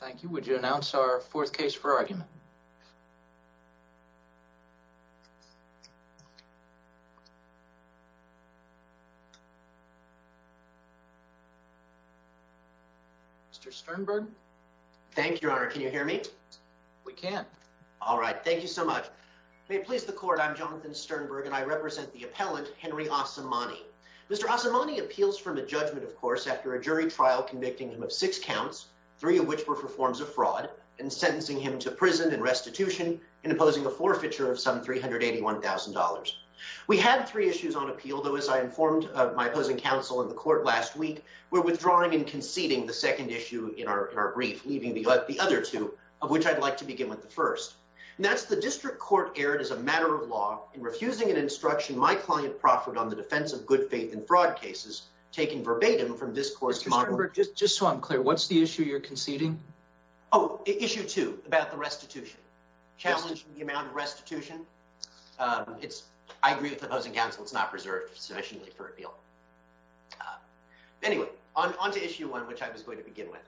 Thank you. Would you announce our fourth case for argument? Mr. Sternberg. Thank you, Your Honor. Can you hear me? We can. All right. Thank you so much. May it please the court. I'm Jonathan Sternberg, and I represent the appellant, Henry Asomani. Mr. Asomani appeals from a judgment, of course, after a jury trial convicting him of six counts, three of which were for forms of fraud, and sentencing him to prison and restitution, and imposing a forfeiture of some $381,000. We had three issues on appeal, though, as I informed my opposing counsel in the court last week, we're withdrawing and conceding the second issue in our brief, leaving the other two, of which I'd like to begin with the first. And that's the district court erred, as a matter of law, in refusing an instruction my client proffered on the defense of good faith in fraud cases, taken verbatim from this court's model. Mr. Sternberg, just so I'm clear, what's the issue you're conceding? Oh, issue two, about the restitution. Challenging the amount of restitution. I agree with opposing counsel, it's not preserved sufficiently for appeal. Anyway, on to issue one, which I was going to begin with.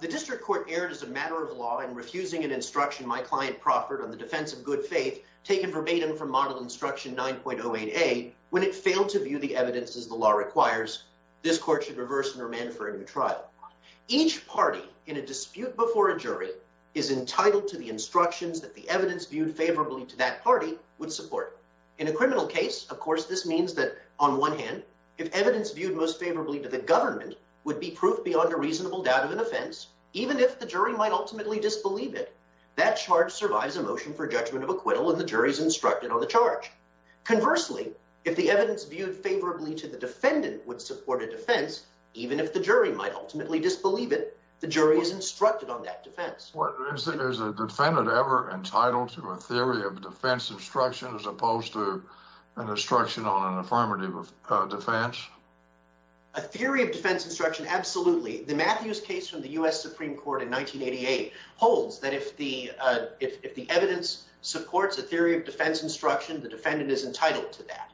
The district court erred, as a matter of law, in refusing an instruction my client proffered on the defense of good faith, taken verbatim from model instruction 9.08a, when it failed to view the evidence as the law requires, this court should reverse and remand for a new trial. Each party in a dispute before a jury is entitled to the instructions that the evidence viewed favorably to that party would support. In a criminal case, of course, this means that, on one hand, if evidence viewed most favorably to the government would be proof beyond a reasonable doubt of an offense, even if the jury might ultimately disbelieve it, that charge survives a motion for judgment of acquittal and the jury's instructed on the charge. Conversely, if the evidence viewed favorably to the defendant would support a defense, even if the jury might ultimately disbelieve it, the jury is instructed on that defense. Is a defendant ever entitled to a theory of defense instruction as opposed to an instruction on an affirmative defense? A theory of defense instruction, absolutely. The Matthews case from the U.S. Supreme Court in 1988 holds that if the evidence supports a theory of defense instruction, the defendant is entitled to that.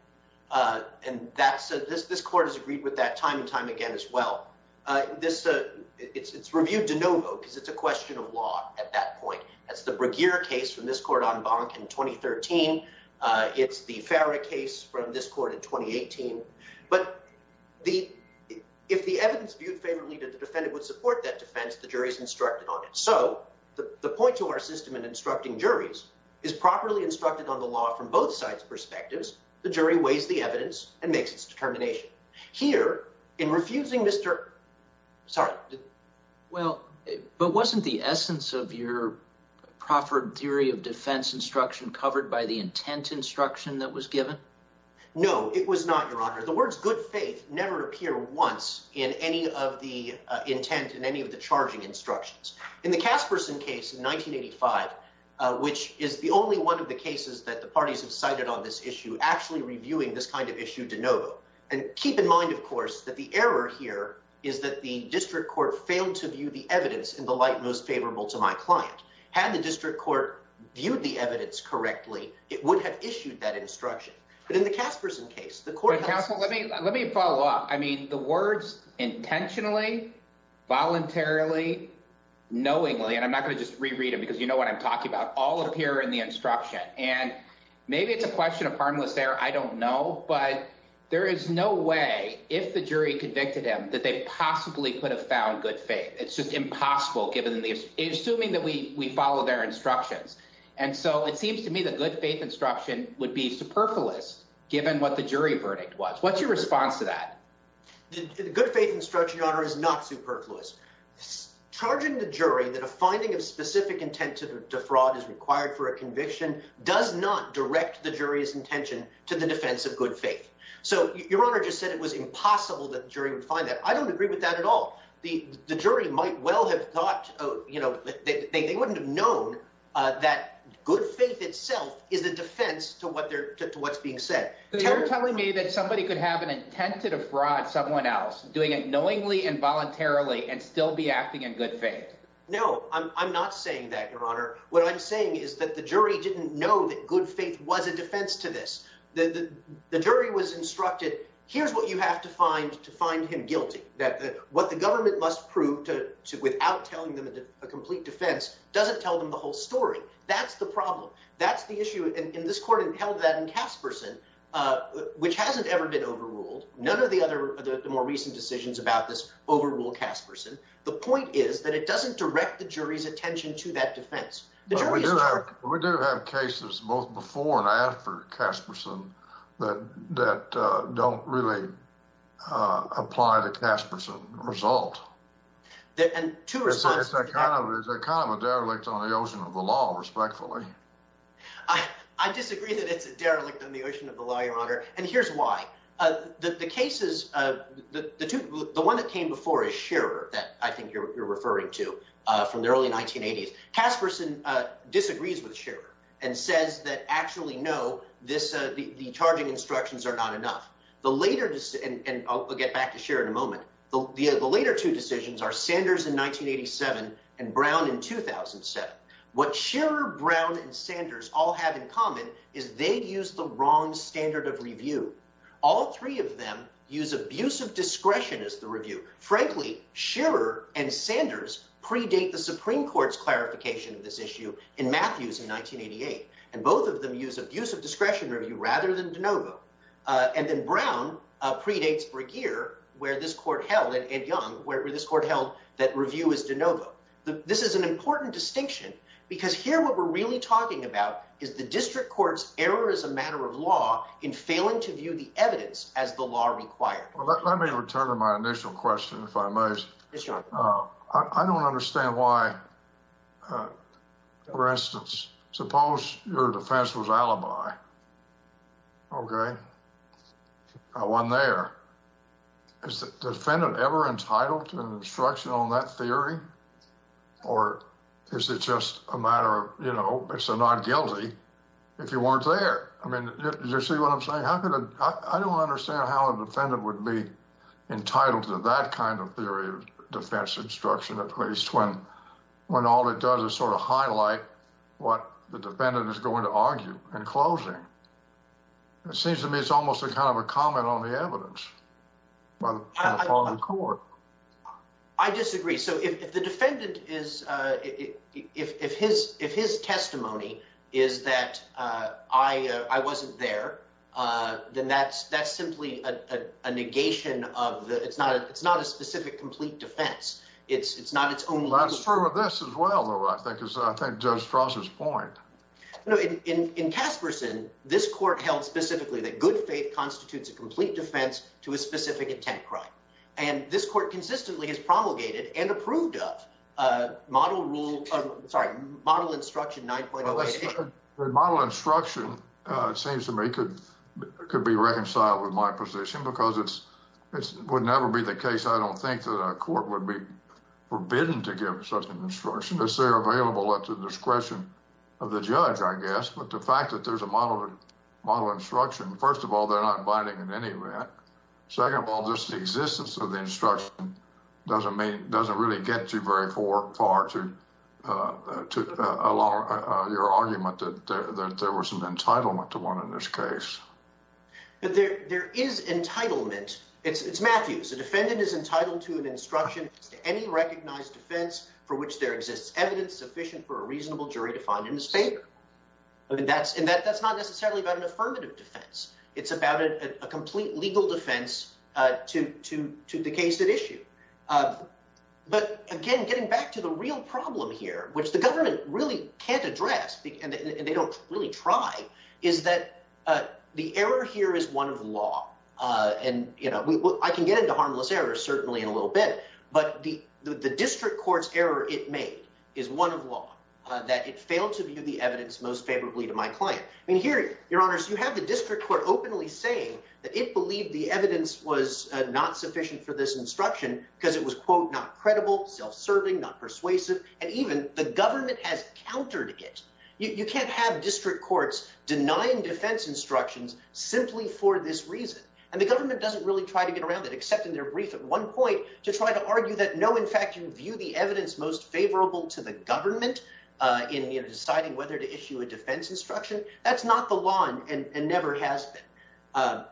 This court has agreed with that time and time again as well. It's reviewed de novo because it's a question of law at that point. That's the Breguier case from this court en banc in 2013. It's the Farah case from this court in 2018. But if the evidence viewed favorably to the defendant would support that defense, the jury is instructed on it. So the point to our system in instructing juries is properly instructed on the law from both sides' perspectives. The jury weighs the evidence and makes its determination. Here, in refusing Mr. — sorry. Well, but wasn't the essence of your proffered theory of defense instruction covered by the intent instruction that was given? No, it was not, Your Honor. The words good faith never appear once in any of the intent and any of the charging instructions. In the Casperson case in 1985, which is the only one of the cases that the parties have cited on this issue, actually reviewing this kind of issue de novo. And keep in mind, of course, that the error here is that the district court failed to view the evidence in the light most favorable to my client. Had the district court viewed the evidence correctly, it would have issued that instruction. But in the Casperson case, the court — But, counsel, let me follow up. I mean, the words intentionally, voluntarily, knowingly — and I'm not going to just reread them because you know what I'm talking about — all appear in the instruction. And maybe it's a question of harmless error. I don't know. But there is no way, if the jury convicted him, that they possibly could have found good faith. It's just impossible, assuming that we follow their instructions. And so it seems to me that good faith instruction would be superfluous, given what the jury verdict was. What's your response to that? Good faith instruction, Your Honor, is not superfluous. Charging the jury that a finding of specific intent to defraud is required for a conviction does not direct the jury's intention to the defense of good faith. So Your Honor just said it was impossible that the jury would find that. I don't agree with that at all. The jury might well have thought — they wouldn't have known that good faith itself is a defense to what's being said. So you're telling me that somebody could have an intent to defraud someone else, doing it knowingly and voluntarily, and still be acting in good faith? No, I'm not saying that, Your Honor. What I'm saying is that the jury didn't know that good faith was a defense to this. The jury was instructed, here's what you have to find to find him guilty. What the government must prove, without telling them a complete defense, doesn't tell them the whole story. That's the problem. That's the issue. And this court held that in Casperson, which hasn't ever been overruled. None of the more recent decisions about this overrule Casperson. The point is that it doesn't direct the jury's attention to that defense. We do have cases, both before and after Casperson, that don't really apply to Casperson's result. It's kind of a derelict on the ocean of the law, respectfully. I disagree that it's a derelict on the ocean of the law, Your Honor, and here's why. The cases — the one that came before is Scherer, that I think you're referring to, from the early 1980s. Casperson disagrees with Scherer and says that, actually, no, the charging instructions are not enough. The later — and I'll get back to Scherer in a moment. The later two decisions are Sanders in 1987 and Brown in 2007. What Scherer, Brown, and Sanders all have in common is they use the wrong standard of review. All three of them use abusive discretion as the review. Frankly, Scherer and Sanders predate the Supreme Court's clarification of this issue in Matthews in 1988. And both of them use abusive discretion review rather than de novo. And then Brown predates Bregeer, where this court held, and Young, where this court held that review is de novo. This is an important distinction because here what we're really talking about is the district court's error as a matter of law in failing to view the evidence as the law required. Let me return to my initial question, if I may. I don't understand why, for instance, suppose your defense was alibi, OK? I wasn't there. Is the defendant ever entitled to an instruction on that theory? Or is it just a matter of, you know, it's a non-guilty if you weren't there? I mean, do you see what I'm saying? I don't understand how a defendant would be entitled to that kind of theory of defense instruction at least when all it does is sort of highlight what the defendant is going to argue in closing. It seems to me it's almost a kind of a comment on the evidence by the court. I disagree. So if the defendant is if his if his testimony is that I wasn't there, then that's that's simply a negation of the it's not it's not a specific complete defense. It's not it's true of this as well. And this court consistently has promulgated and approved of model rule. Sorry, model instruction. Model instruction, it seems to me, could could be reconciled with my position because it's it would never be the case. I don't think that a court would be forbidden to give such an instruction as they're available at the discretion of the judge, I guess. But the fact that there's a model model instruction, first of all, they're not binding in any way. Second of all, just the existence of the instruction doesn't mean it doesn't really get too very far to to allow your argument that there was an entitlement to one in this case. But there there is entitlement. It's it's Matthews. The defendant is entitled to an instruction to any recognized defense for which there exists evidence sufficient for a reasonable jury to find a mistake. And that's and that that's not necessarily about an affirmative defense. It's about a complete legal defense to to to the case at issue. But again, getting back to the real problem here, which the government really can't address and they don't really try, is that the error here is one of the law. And, you know, I can get into harmless error certainly in a little bit. But the the district court's error it made is one of law that it failed to view the evidence most favorably to my client. And here, your honors, you have the district court openly saying that it believed the evidence was not sufficient for this instruction because it was, quote, not credible, self-serving, not persuasive. And even the government has countered it. You can't have district courts denying defense instructions simply for this reason. And the government doesn't really try to get around that, except in their brief at one point to try to argue that. You know, in fact, you view the evidence most favorable to the government in deciding whether to issue a defense instruction. That's not the law and never has been.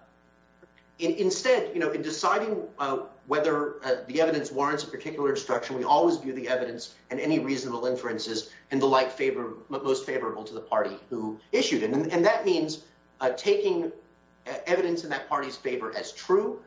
Instead, you know, in deciding whether the evidence warrants a particular instruction, we always view the evidence and any reasonable inferences and the like favor most favorable to the party who issued it. And that means taking evidence in that party's favor as true.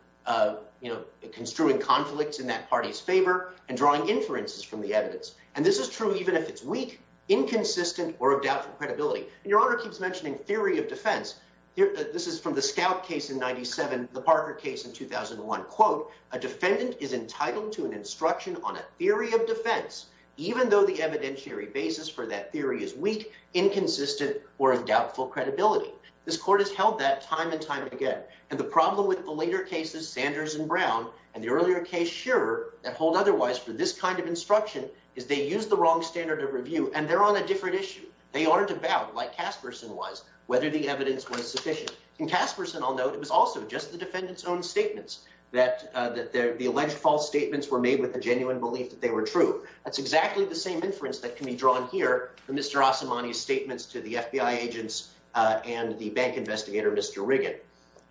You know, construing conflicts in that party's favor and drawing inferences from the evidence. And this is true even if it's weak, inconsistent or of doubtful credibility. And your honor keeps mentioning theory of defense. This is from the scout case in 97, the Parker case in 2001. Quote, a defendant is entitled to an instruction on a theory of defense, even though the evidentiary basis for that theory is weak, inconsistent or of doubtful credibility. This court has held that time and time again. And the problem with the later cases, Sanders and Brown and the earlier case, sure, that hold otherwise for this kind of instruction, is they use the wrong standard of review and they're on a different issue. They aren't about, like Casperson was, whether the evidence was sufficient. In Casperson, although it was also just the defendant's own statements, that the alleged false statements were made with a genuine belief that they were true. That's exactly the same inference that can be drawn here. Mr. Asimani's statements to the FBI agents and the bank investigator, Mr. Riggan.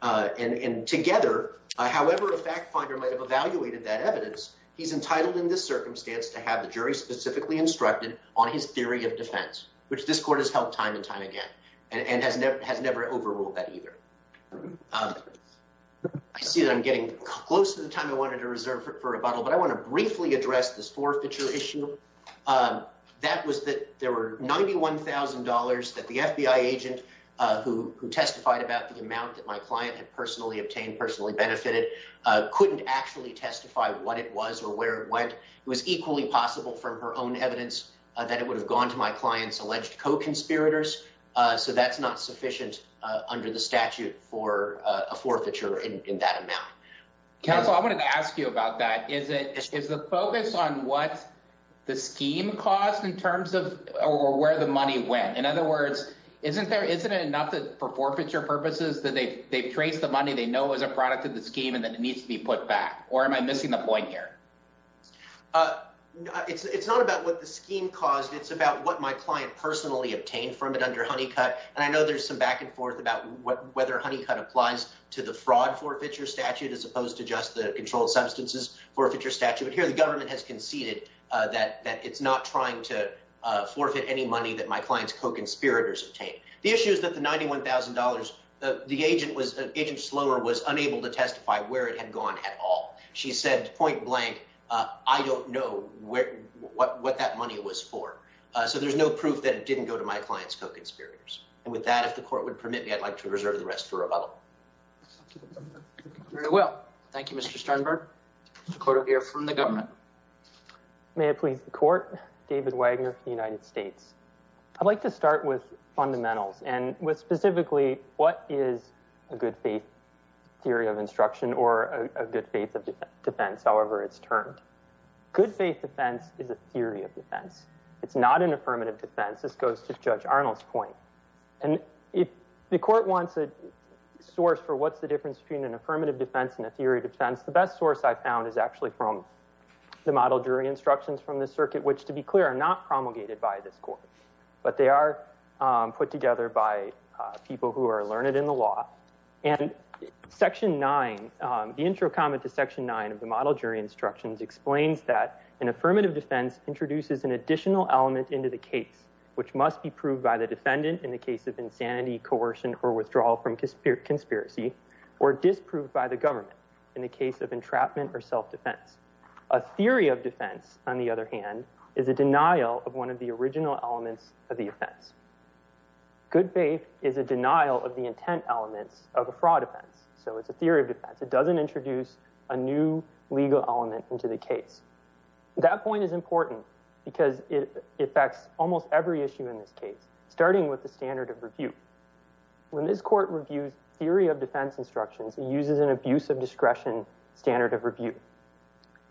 And together, however, a fact finder might have evaluated that evidence. He's entitled in this circumstance to have the jury specifically instructed on his theory of defense, which this court has held time and time again and has never has never overruled that either. I see that I'm getting close to the time I wanted to reserve for rebuttal, but I want to briefly address this forfeiture issue. That was that there were ninety one thousand dollars that the FBI agent who testified about the amount that my client had personally obtained, personally benefited, couldn't actually testify what it was or where it went. It was equally possible from her own evidence that it would have gone to my client's alleged co-conspirators. So that's not sufficient under the statute for a forfeiture in that amount. Counsel, I wanted to ask you about that. Is it is the focus on what the scheme cost in terms of where the money went? In other words, isn't there isn't it enough for forfeiture purposes that they they've traced the money they know as a product of the scheme and that needs to be put back? Or am I missing the point here? It's not about what the scheme caused. It's about what my client personally obtained from it under Honeycutt. And I know there's some back and forth about whether Honeycutt applies to the fraud forfeiture statute as opposed to just the controlled substances forfeiture statute. But here the government has conceded that that it's not trying to forfeit any money that my client's co-conspirators obtain. The issue is that the ninety one thousand dollars the agent was agent Slower was unable to testify where it had gone at all. She said point blank. I don't know what that money was for. So there's no proof that it didn't go to my client's co-conspirators. And with that, if the court would permit me, I'd like to reserve the rest for rebuttal. Very well. Thank you, Mr. Sternberg. The court will hear from the government. May it please the court. David Wagner of the United States. I'd like to start with fundamentals and with specifically what is a good faith theory of instruction or a good faith of defense. However, it's termed good faith defense is a theory of defense. It's not an affirmative defense. This goes to Judge Arnold's point. And if the court wants a source for what's the difference between an affirmative defense and a theory of defense, the best source I found is actually from the model jury instructions from the circuit, which, to be clear, are not promulgated by this court. But they are put together by people who are learned in the law. And Section 9, the intro comment to Section 9 of the model jury instructions, explains that an affirmative defense introduces an additional element into the case, which must be proved by the defendant in the case of insanity, coercion or withdrawal from conspiracy, or disproved by the government in the case of entrapment or self-defense. A theory of defense, on the other hand, is a denial of one of the original elements of the offense. Good faith is a denial of the intent elements of a fraud offense. So it's a theory of defense. It doesn't introduce a new legal element into the case. That point is important because it affects almost every issue in this case, starting with the standard of review. When this court reviews theory of defense instructions, it uses an abuse of discretion standard of review.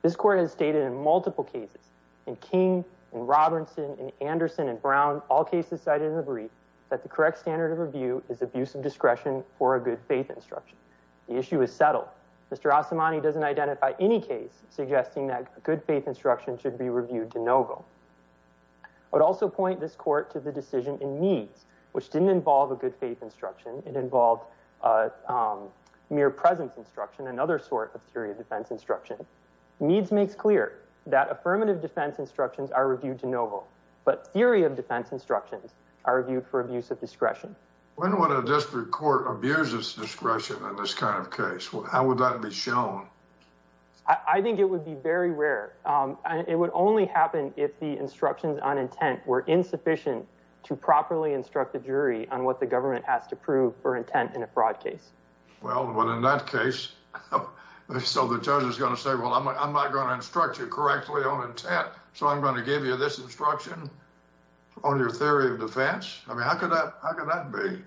This court has stated in multiple cases, in King, in Robinson, in Anderson, in Brown, all cases cited in the brief, that the correct standard of review is abuse of discretion for a good faith instruction. The issue is settled. Mr. Asimani doesn't identify any case suggesting that a good faith instruction should be reviewed de novo. I would also point this court to the decision in Meads, which didn't involve a good faith instruction. It involved mere presence instruction, another sort of theory of defense instruction. Meads makes clear that affirmative defense instructions are reviewed de novo, but theory of defense instructions are reviewed for abuse of discretion. When would a district court abuse its discretion in this kind of case? How would that be shown? I think it would be very rare. It would only happen if the instructions on intent were insufficient to properly instruct the jury on what the government has to prove for intent in a fraud case. Well, but in that case, so the judge is going to say, well, I'm not going to instruct you correctly on intent, so I'm going to give you this instruction on your theory of defense? I mean, how could that be?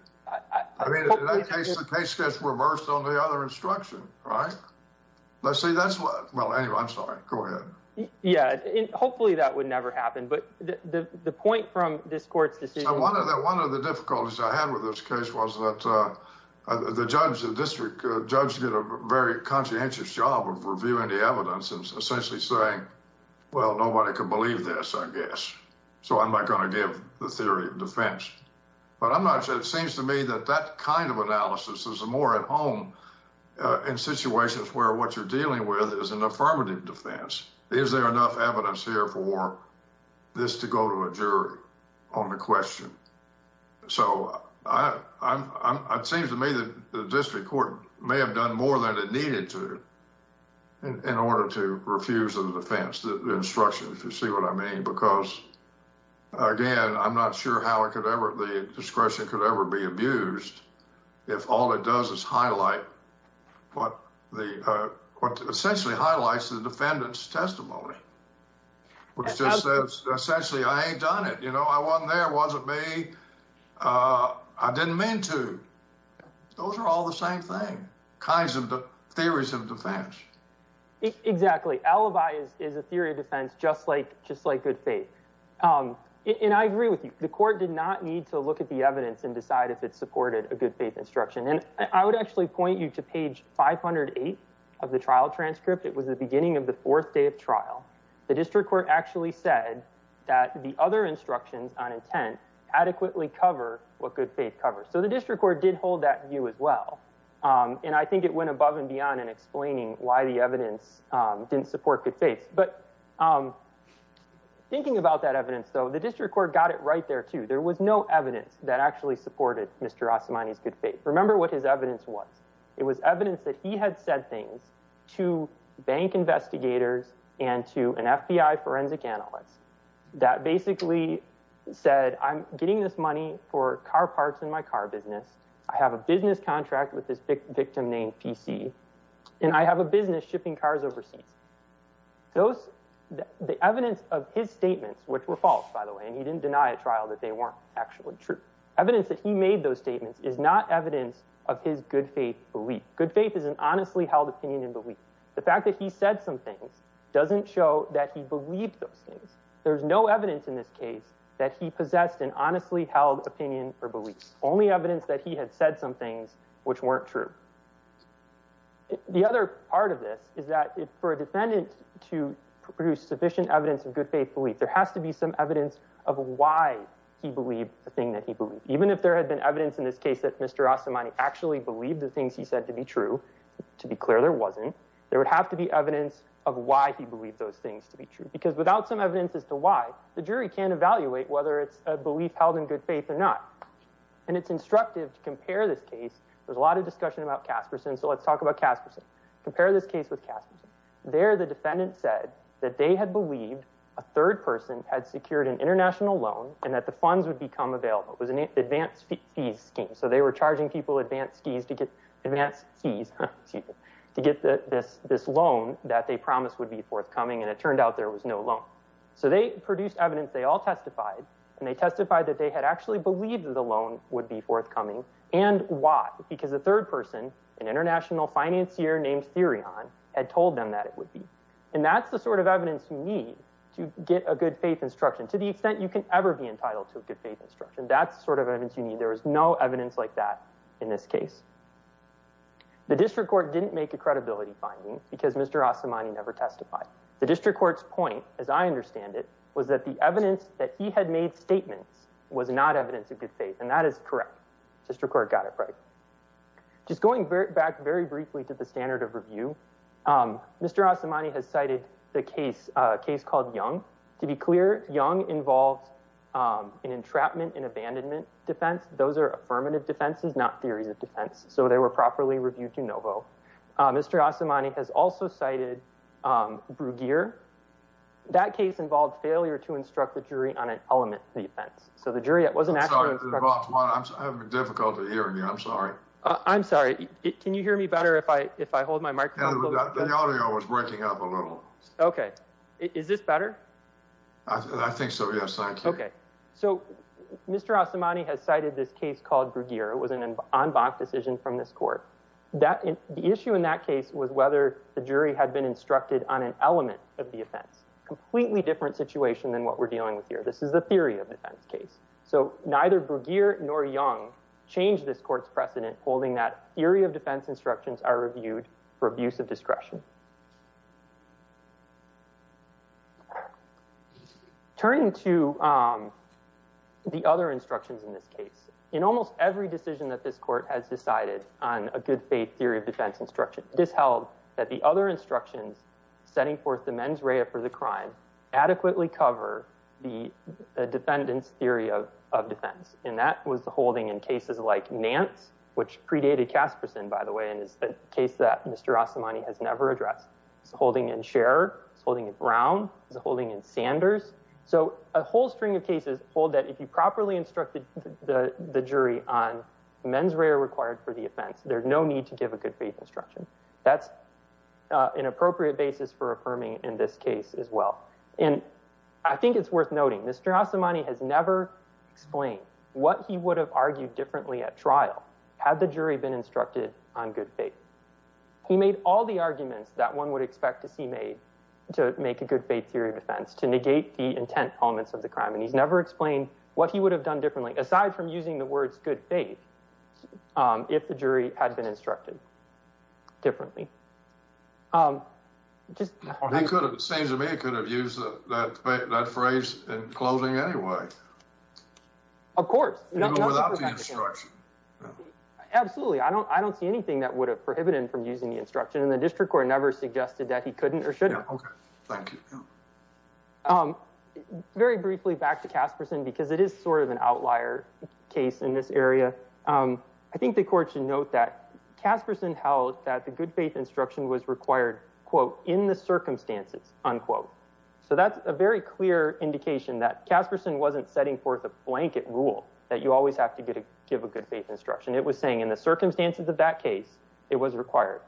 I mean, in that case, the case gets reversed on the other instruction, right? Let's see, that's what, well, anyway, I'm sorry. Go ahead. Yeah, hopefully that would never happen, but the point from this court's decision... One of the difficulties I had with this case was that the judge in the district, the judge did a very conscientious job of reviewing the evidence and essentially saying, well, nobody can believe this, I guess, so I'm not going to give the theory of defense. But it seems to me that that kind of analysis is more at home in situations where what you're dealing with is an affirmative defense. Is there enough evidence here for this to go to a jury on the question? So it seems to me that the district court may have done more than it needed to in order to refuse the defense, the instruction, if you see what I mean, because, again, I'm not sure how the discretion could ever be abused if all it does is highlight what the court essentially highlights the defendant's testimony, which just says essentially, I ain't done it. You know, I wasn't there, wasn't me. I didn't mean to. Those are all the same thing, kinds of theories of defense. Exactly. Alibi is a theory of defense, just like just like good faith. And I agree with you. The court did not need to look at the evidence and decide if it supported a good faith instruction. And I would actually point you to page 508 of the trial transcript. It was the beginning of the fourth day of trial. The district court actually said that the other instructions on intent adequately cover what good faith covers. So the district court did hold that view as well. And I think it went above and beyond in explaining why the evidence didn't support good faith. Yes. But thinking about that evidence, though, the district court got it right there, too. There was no evidence that actually supported Mr. Osamani's good faith. Remember what his evidence was. It was evidence that he had said things to bank investigators and to an FBI forensic analyst that basically said, I'm getting this money for car parts in my car business. I have a business contract with this victim named P.C. And I have a business shipping cars overseas. Those are the evidence of his statements, which were false, by the way. And he didn't deny a trial that they weren't actually true. Evidence that he made those statements is not evidence of his good faith belief. Good faith is an honestly held opinion and belief. The fact that he said some things doesn't show that he believed those things. There's no evidence in this case that he possessed an honestly held opinion or beliefs. Only evidence that he had said some things which weren't true. The other part of this is that for a defendant to produce sufficient evidence of good faith belief, there has to be some evidence of why he believed the thing that he believed, even if there had been evidence in this case that Mr. Osamani actually believed the things he said to be true. To be clear, there wasn't. There would have to be evidence of why he believed those things to be true, because without some evidence as to why, the jury can't evaluate whether it's a belief held in good faith or not. And it's instructive to compare this case. There's a lot of discussion about Caspersen. So let's talk about Caspersen. Compare this case with Caspersen. There, the defendant said that they had believed a third person had secured an international loan and that the funds would become available. It was an advanced fees scheme. So they were charging people advance fees to get this loan that they promised would be forthcoming. And it turned out there was no loan. So they produced evidence. They all testified and they testified that they had actually believed that the loan would be forthcoming. And why? Because a third person, an international financier named Therion, had told them that it would be. And that's the sort of evidence you need to get a good faith instruction to the extent you can ever be entitled to a good faith instruction. That's sort of evidence you need. There is no evidence like that in this case. The district court didn't make a credibility finding because Mr. Osamani never testified. The district court's point, as I understand it, was that the evidence that he had made statements was not evidence of good faith. And that is correct. District court got it right. Just going back very briefly to the standard of review, Mr. Osamani has cited the case, a case called Young. To be clear, Young involved an entrapment and abandonment defense. Those are affirmative defenses, not theories of defense. So they were properly reviewed to Novo. Mr. Osamani has also cited Bruguier. That case involved failure to instruct the jury on an element defense. So the jury wasn't actually- I'm sorry. I'm having difficulty hearing you. I'm sorry. I'm sorry. Can you hear me better if I hold my microphone? The audio was breaking up a little. Okay. Is this better? I think so, yes. Thank you. Okay. So Mr. Osamani has cited this case called Bruguier. It was an en banc decision from this court. The issue in that case was whether the jury had been instructed on an element of the offense. Completely different situation than what we're dealing with here. This is a theory of defense case. So neither Bruguier nor Young changed this court's precedent, holding that theory of defense instructions are reviewed for abuse of discretion. Turning to the other instructions in this case. In almost every decision that this court has decided on a good faith theory of defense instruction, it is held that the other instructions setting forth the mens rea for the crime adequately cover the defendant's theory of defense. And that was the holding in cases like Nance, which predated Casperson, by the way, and is a case that Mr. Osamani has never addressed. It's a holding in Scherer. It's a holding in Brown. It's a holding in Sanders. So a whole string of cases hold that if you properly instructed the jury on mens rea required for the offense, there's no need to give a good faith instruction. That's an appropriate basis for affirming in this case as well. And I think it's worth noting Mr. Osamani has never explained what he would have argued differently at trial had the jury been instructed on good faith. He made all the arguments that one would expect to see made to make a good faith theory of defense. To negate the intent elements of the crime. And he's never explained what he would have done differently, aside from using the words good faith, if the jury had been instructed differently. It seems to me he could have used that phrase in closing anyway. Of course. Even without the instruction. Absolutely. I don't see anything that would have prohibited him from using the instruction. And the district court never suggested that he couldn't or shouldn't. Very briefly back to Casperson, because it is sort of an outlier case in this area. I think the court should note that Casperson held that the good faith instruction was required, quote, in the circumstances, unquote. So that's a very clear indication that Casperson wasn't setting forth a blanket rule that you always have to get to give a good faith instruction. It was saying in the circumstances of that case, it was required.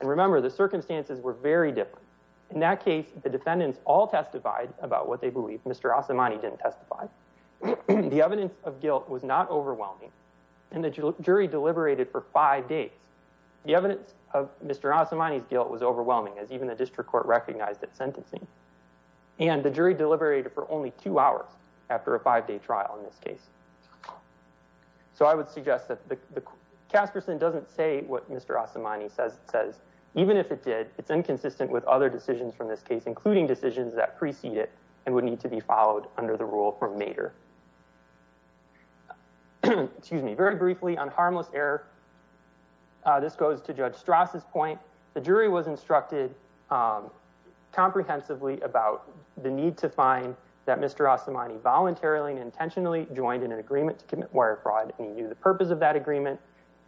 And remember, the circumstances were very different. In that case, the defendants all testified about what they believe. Mr. Osamani didn't testify. The evidence of guilt was not overwhelming. And the jury deliberated for five days. The evidence of Mr. Osamani's guilt was overwhelming, as even the district court recognized it sentencing. And the jury deliberated for only two hours after a five day trial in this case. So I would suggest that Casperson doesn't say what Mr. Osamani says. It says even if it did, it's inconsistent with other decisions from this case, including decisions that precede it and would need to be followed under the rule from Nader. Excuse me very briefly on harmless error. This goes to Judge Strauss's point. The jury was instructed comprehensively about the need to find that Mr. Osamani voluntarily and intentionally joined in an agreement to commit wire fraud. And he knew the purpose of that agreement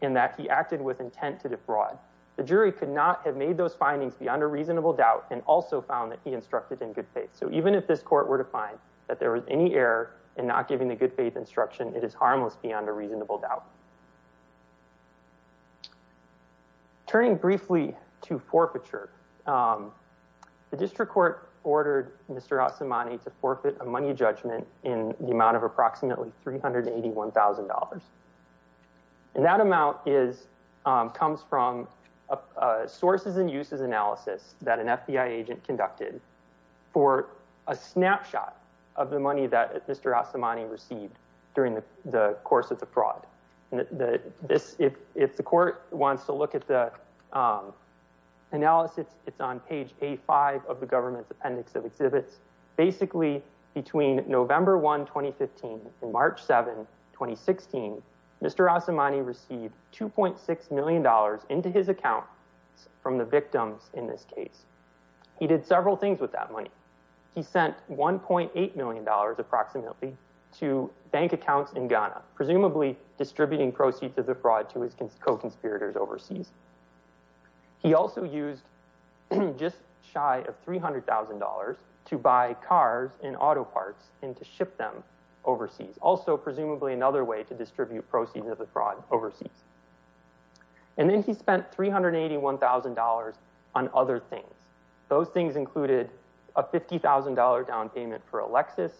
and that he acted with intent to defraud. The jury could not have made those findings beyond a reasonable doubt and also found that he instructed in good faith. So even if this court were to find that there was any error in not giving the good faith instruction, it is harmless beyond a reasonable doubt. Turning briefly to forfeiture, the district court ordered Mr. Osamani to forfeit a money judgment in the amount of approximately $381,000. And that amount comes from sources and uses analysis that an FBI agent conducted for a snapshot of the money that Mr. Osamani received during the course of the fraud. If the court wants to look at the analysis, it's on page A5 of the government's appendix of exhibits. Basically, between November 1, 2015 and March 7, 2016, Mr. Osamani received $2.6 million into his account from the victims in this case. He did several things with that money. He sent $1.8 million approximately to bank accounts in Ghana, presumably distributing proceeds of the fraud to his co-conspirators overseas. He also used just shy of $300,000 to buy cars and auto parts and to ship them overseas, also presumably another way to distribute proceeds of the fraud overseas. And then he spent $381,000 on other things. Those things included a $50,000 down payment for a Lexus,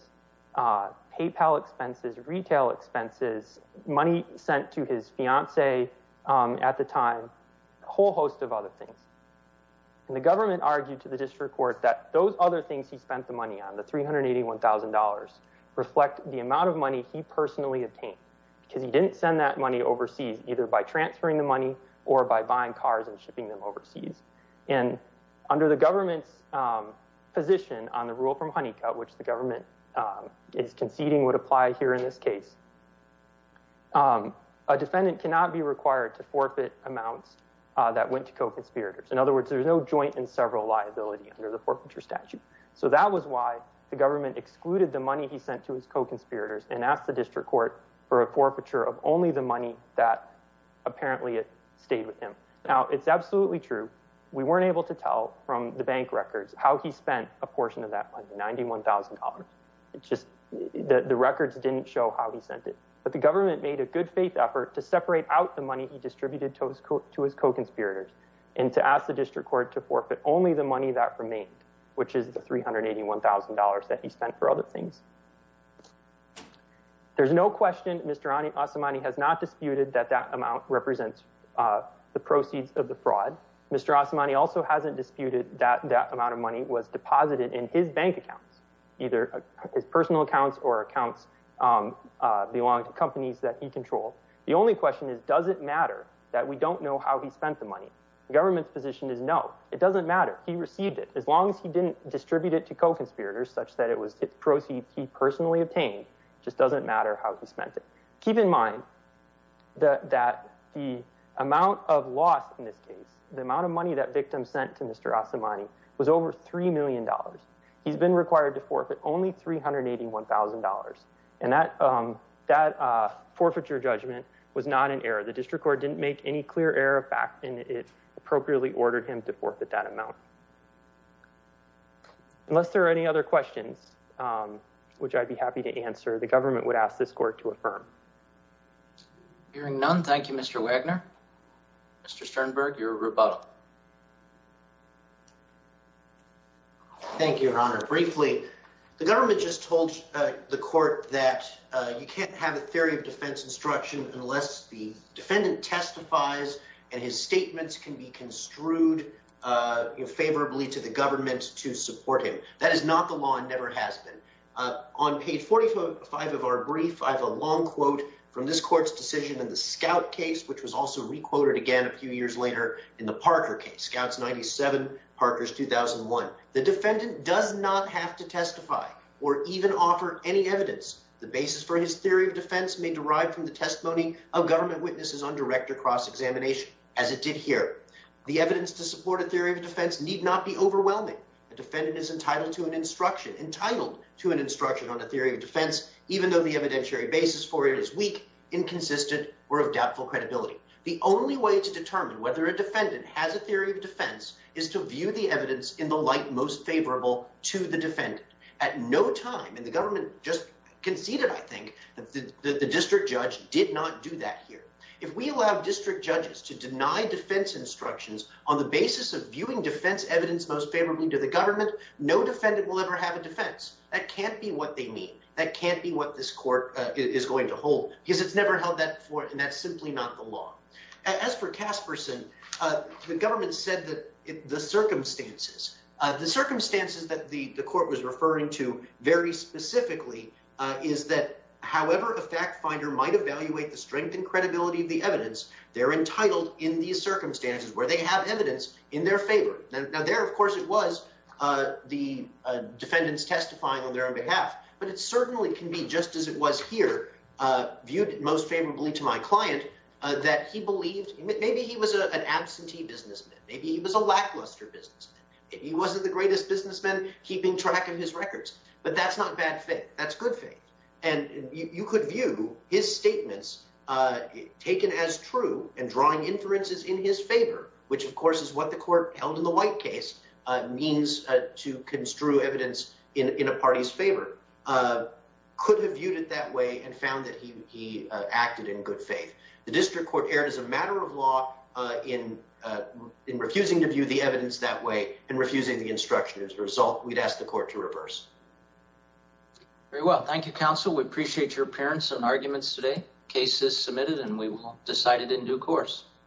PayPal expenses, retail expenses, money sent to his fiance at the time, a whole host of other things. And the government argued to the district court that those other things he spent the money on, the $381,000, reflect the amount of money he personally obtained. Because he didn't send that money overseas, either by transferring the money or by buying cars and shipping them overseas. And under the government's position on the rule from Honeycutt, which the government is conceding would apply here in this case, a defendant cannot be required to forfeit amounts that went to co-conspirators. In other words, there's no joint and several liability under the forfeiture statute. So that was why the government excluded the money he sent to his co-conspirators and asked the district court for a forfeiture of only the money that apparently it stayed with him. Now, it's absolutely true. We weren't able to tell from the bank records how he spent a portion of that money, $91,000. It's just that the records didn't show how he sent it. But the government made a good faith effort to separate out the money he distributed to his co-conspirators and to ask the district court to forfeit only the money that remained, which is the $381,000 that he spent for other things. There's no question Mr. Asamani has not disputed that that amount represents the proceeds of the fraud. Mr. Asamani also hasn't disputed that that amount of money was deposited in his bank accounts, either his personal accounts or accounts belonging to companies that he controlled. The only question is, does it matter that we don't know how he spent the money? The government's position is no. It doesn't matter. He received it as long as he didn't distribute it to co-conspirators such that it was the proceeds he personally obtained. It just doesn't matter how he spent it. Keep in mind that the amount of loss in this case, the amount of money that victim sent to Mr. Asamani, was over $3 million. He's been required to forfeit only $381,000. And that forfeiture judgment was not an error. Unless there are any other questions, which I'd be happy to answer, the government would ask this court to affirm. Hearing none, thank you, Mr. Wagner. Mr. Sternberg, your rebuttal. Thank you, Your Honor. Briefly, the government just told the court that you can't have a theory of defense instruction unless the defendant testifies and his statements can be construed favorably to the government to support him. That is not the law and never has been. On page 45 of our brief, I have a long quote from this court's decision in the Scout case, which was also re-quoted again a few years later in the Parker case, Scouts 97, Parkers 2001. The defendant does not have to testify or even offer any evidence. The basis for his theory of defense may derive from the testimony of government witnesses on direct or cross examination, as it did here. The evidence to support a theory of defense need not be overwhelming. A defendant is entitled to an instruction, entitled to an instruction on a theory of defense, even though the evidentiary basis for it is weak, inconsistent, or of doubtful credibility. The only way to determine whether a defendant has a theory of defense is to view the evidence in the light most favorable to the defendant. At no time, and the government just conceded, I think, that the district judge did not do that here. If we allow district judges to deny defense instructions on the basis of viewing defense evidence most favorably to the government, no defendant will ever have a defense. That can't be what they mean. That can't be what this court is going to hold, because it's never held that before, and that's simply not the law. As for Casperson, the government said that the circumstances, the circumstances that the court was referring to very specifically is that however a fact finder might evaluate the strength and credibility of the evidence, they're entitled in these circumstances, where they have evidence, in their favor. Now, there, of course, it was the defendants testifying on their own behalf, but it certainly can be just as it was here, viewed most favorably to my client, that he believed maybe he was an absentee businessman. Maybe he was a lackluster businessman. Maybe he wasn't the greatest businessman keeping track of his records, but that's not bad faith. And you could view his statements taken as true and drawing inferences in his favor, which, of course, is what the court held in the white case means to construe evidence in a party's favor. Could have viewed it that way and found that he acted in good faith. The district court erred as a matter of law in refusing to view the evidence that way and refusing the instruction. As a result, we'd ask the court to reverse. Very well. Thank you, counsel. We appreciate your appearance and arguments today. Case is submitted and we will decide it in due course.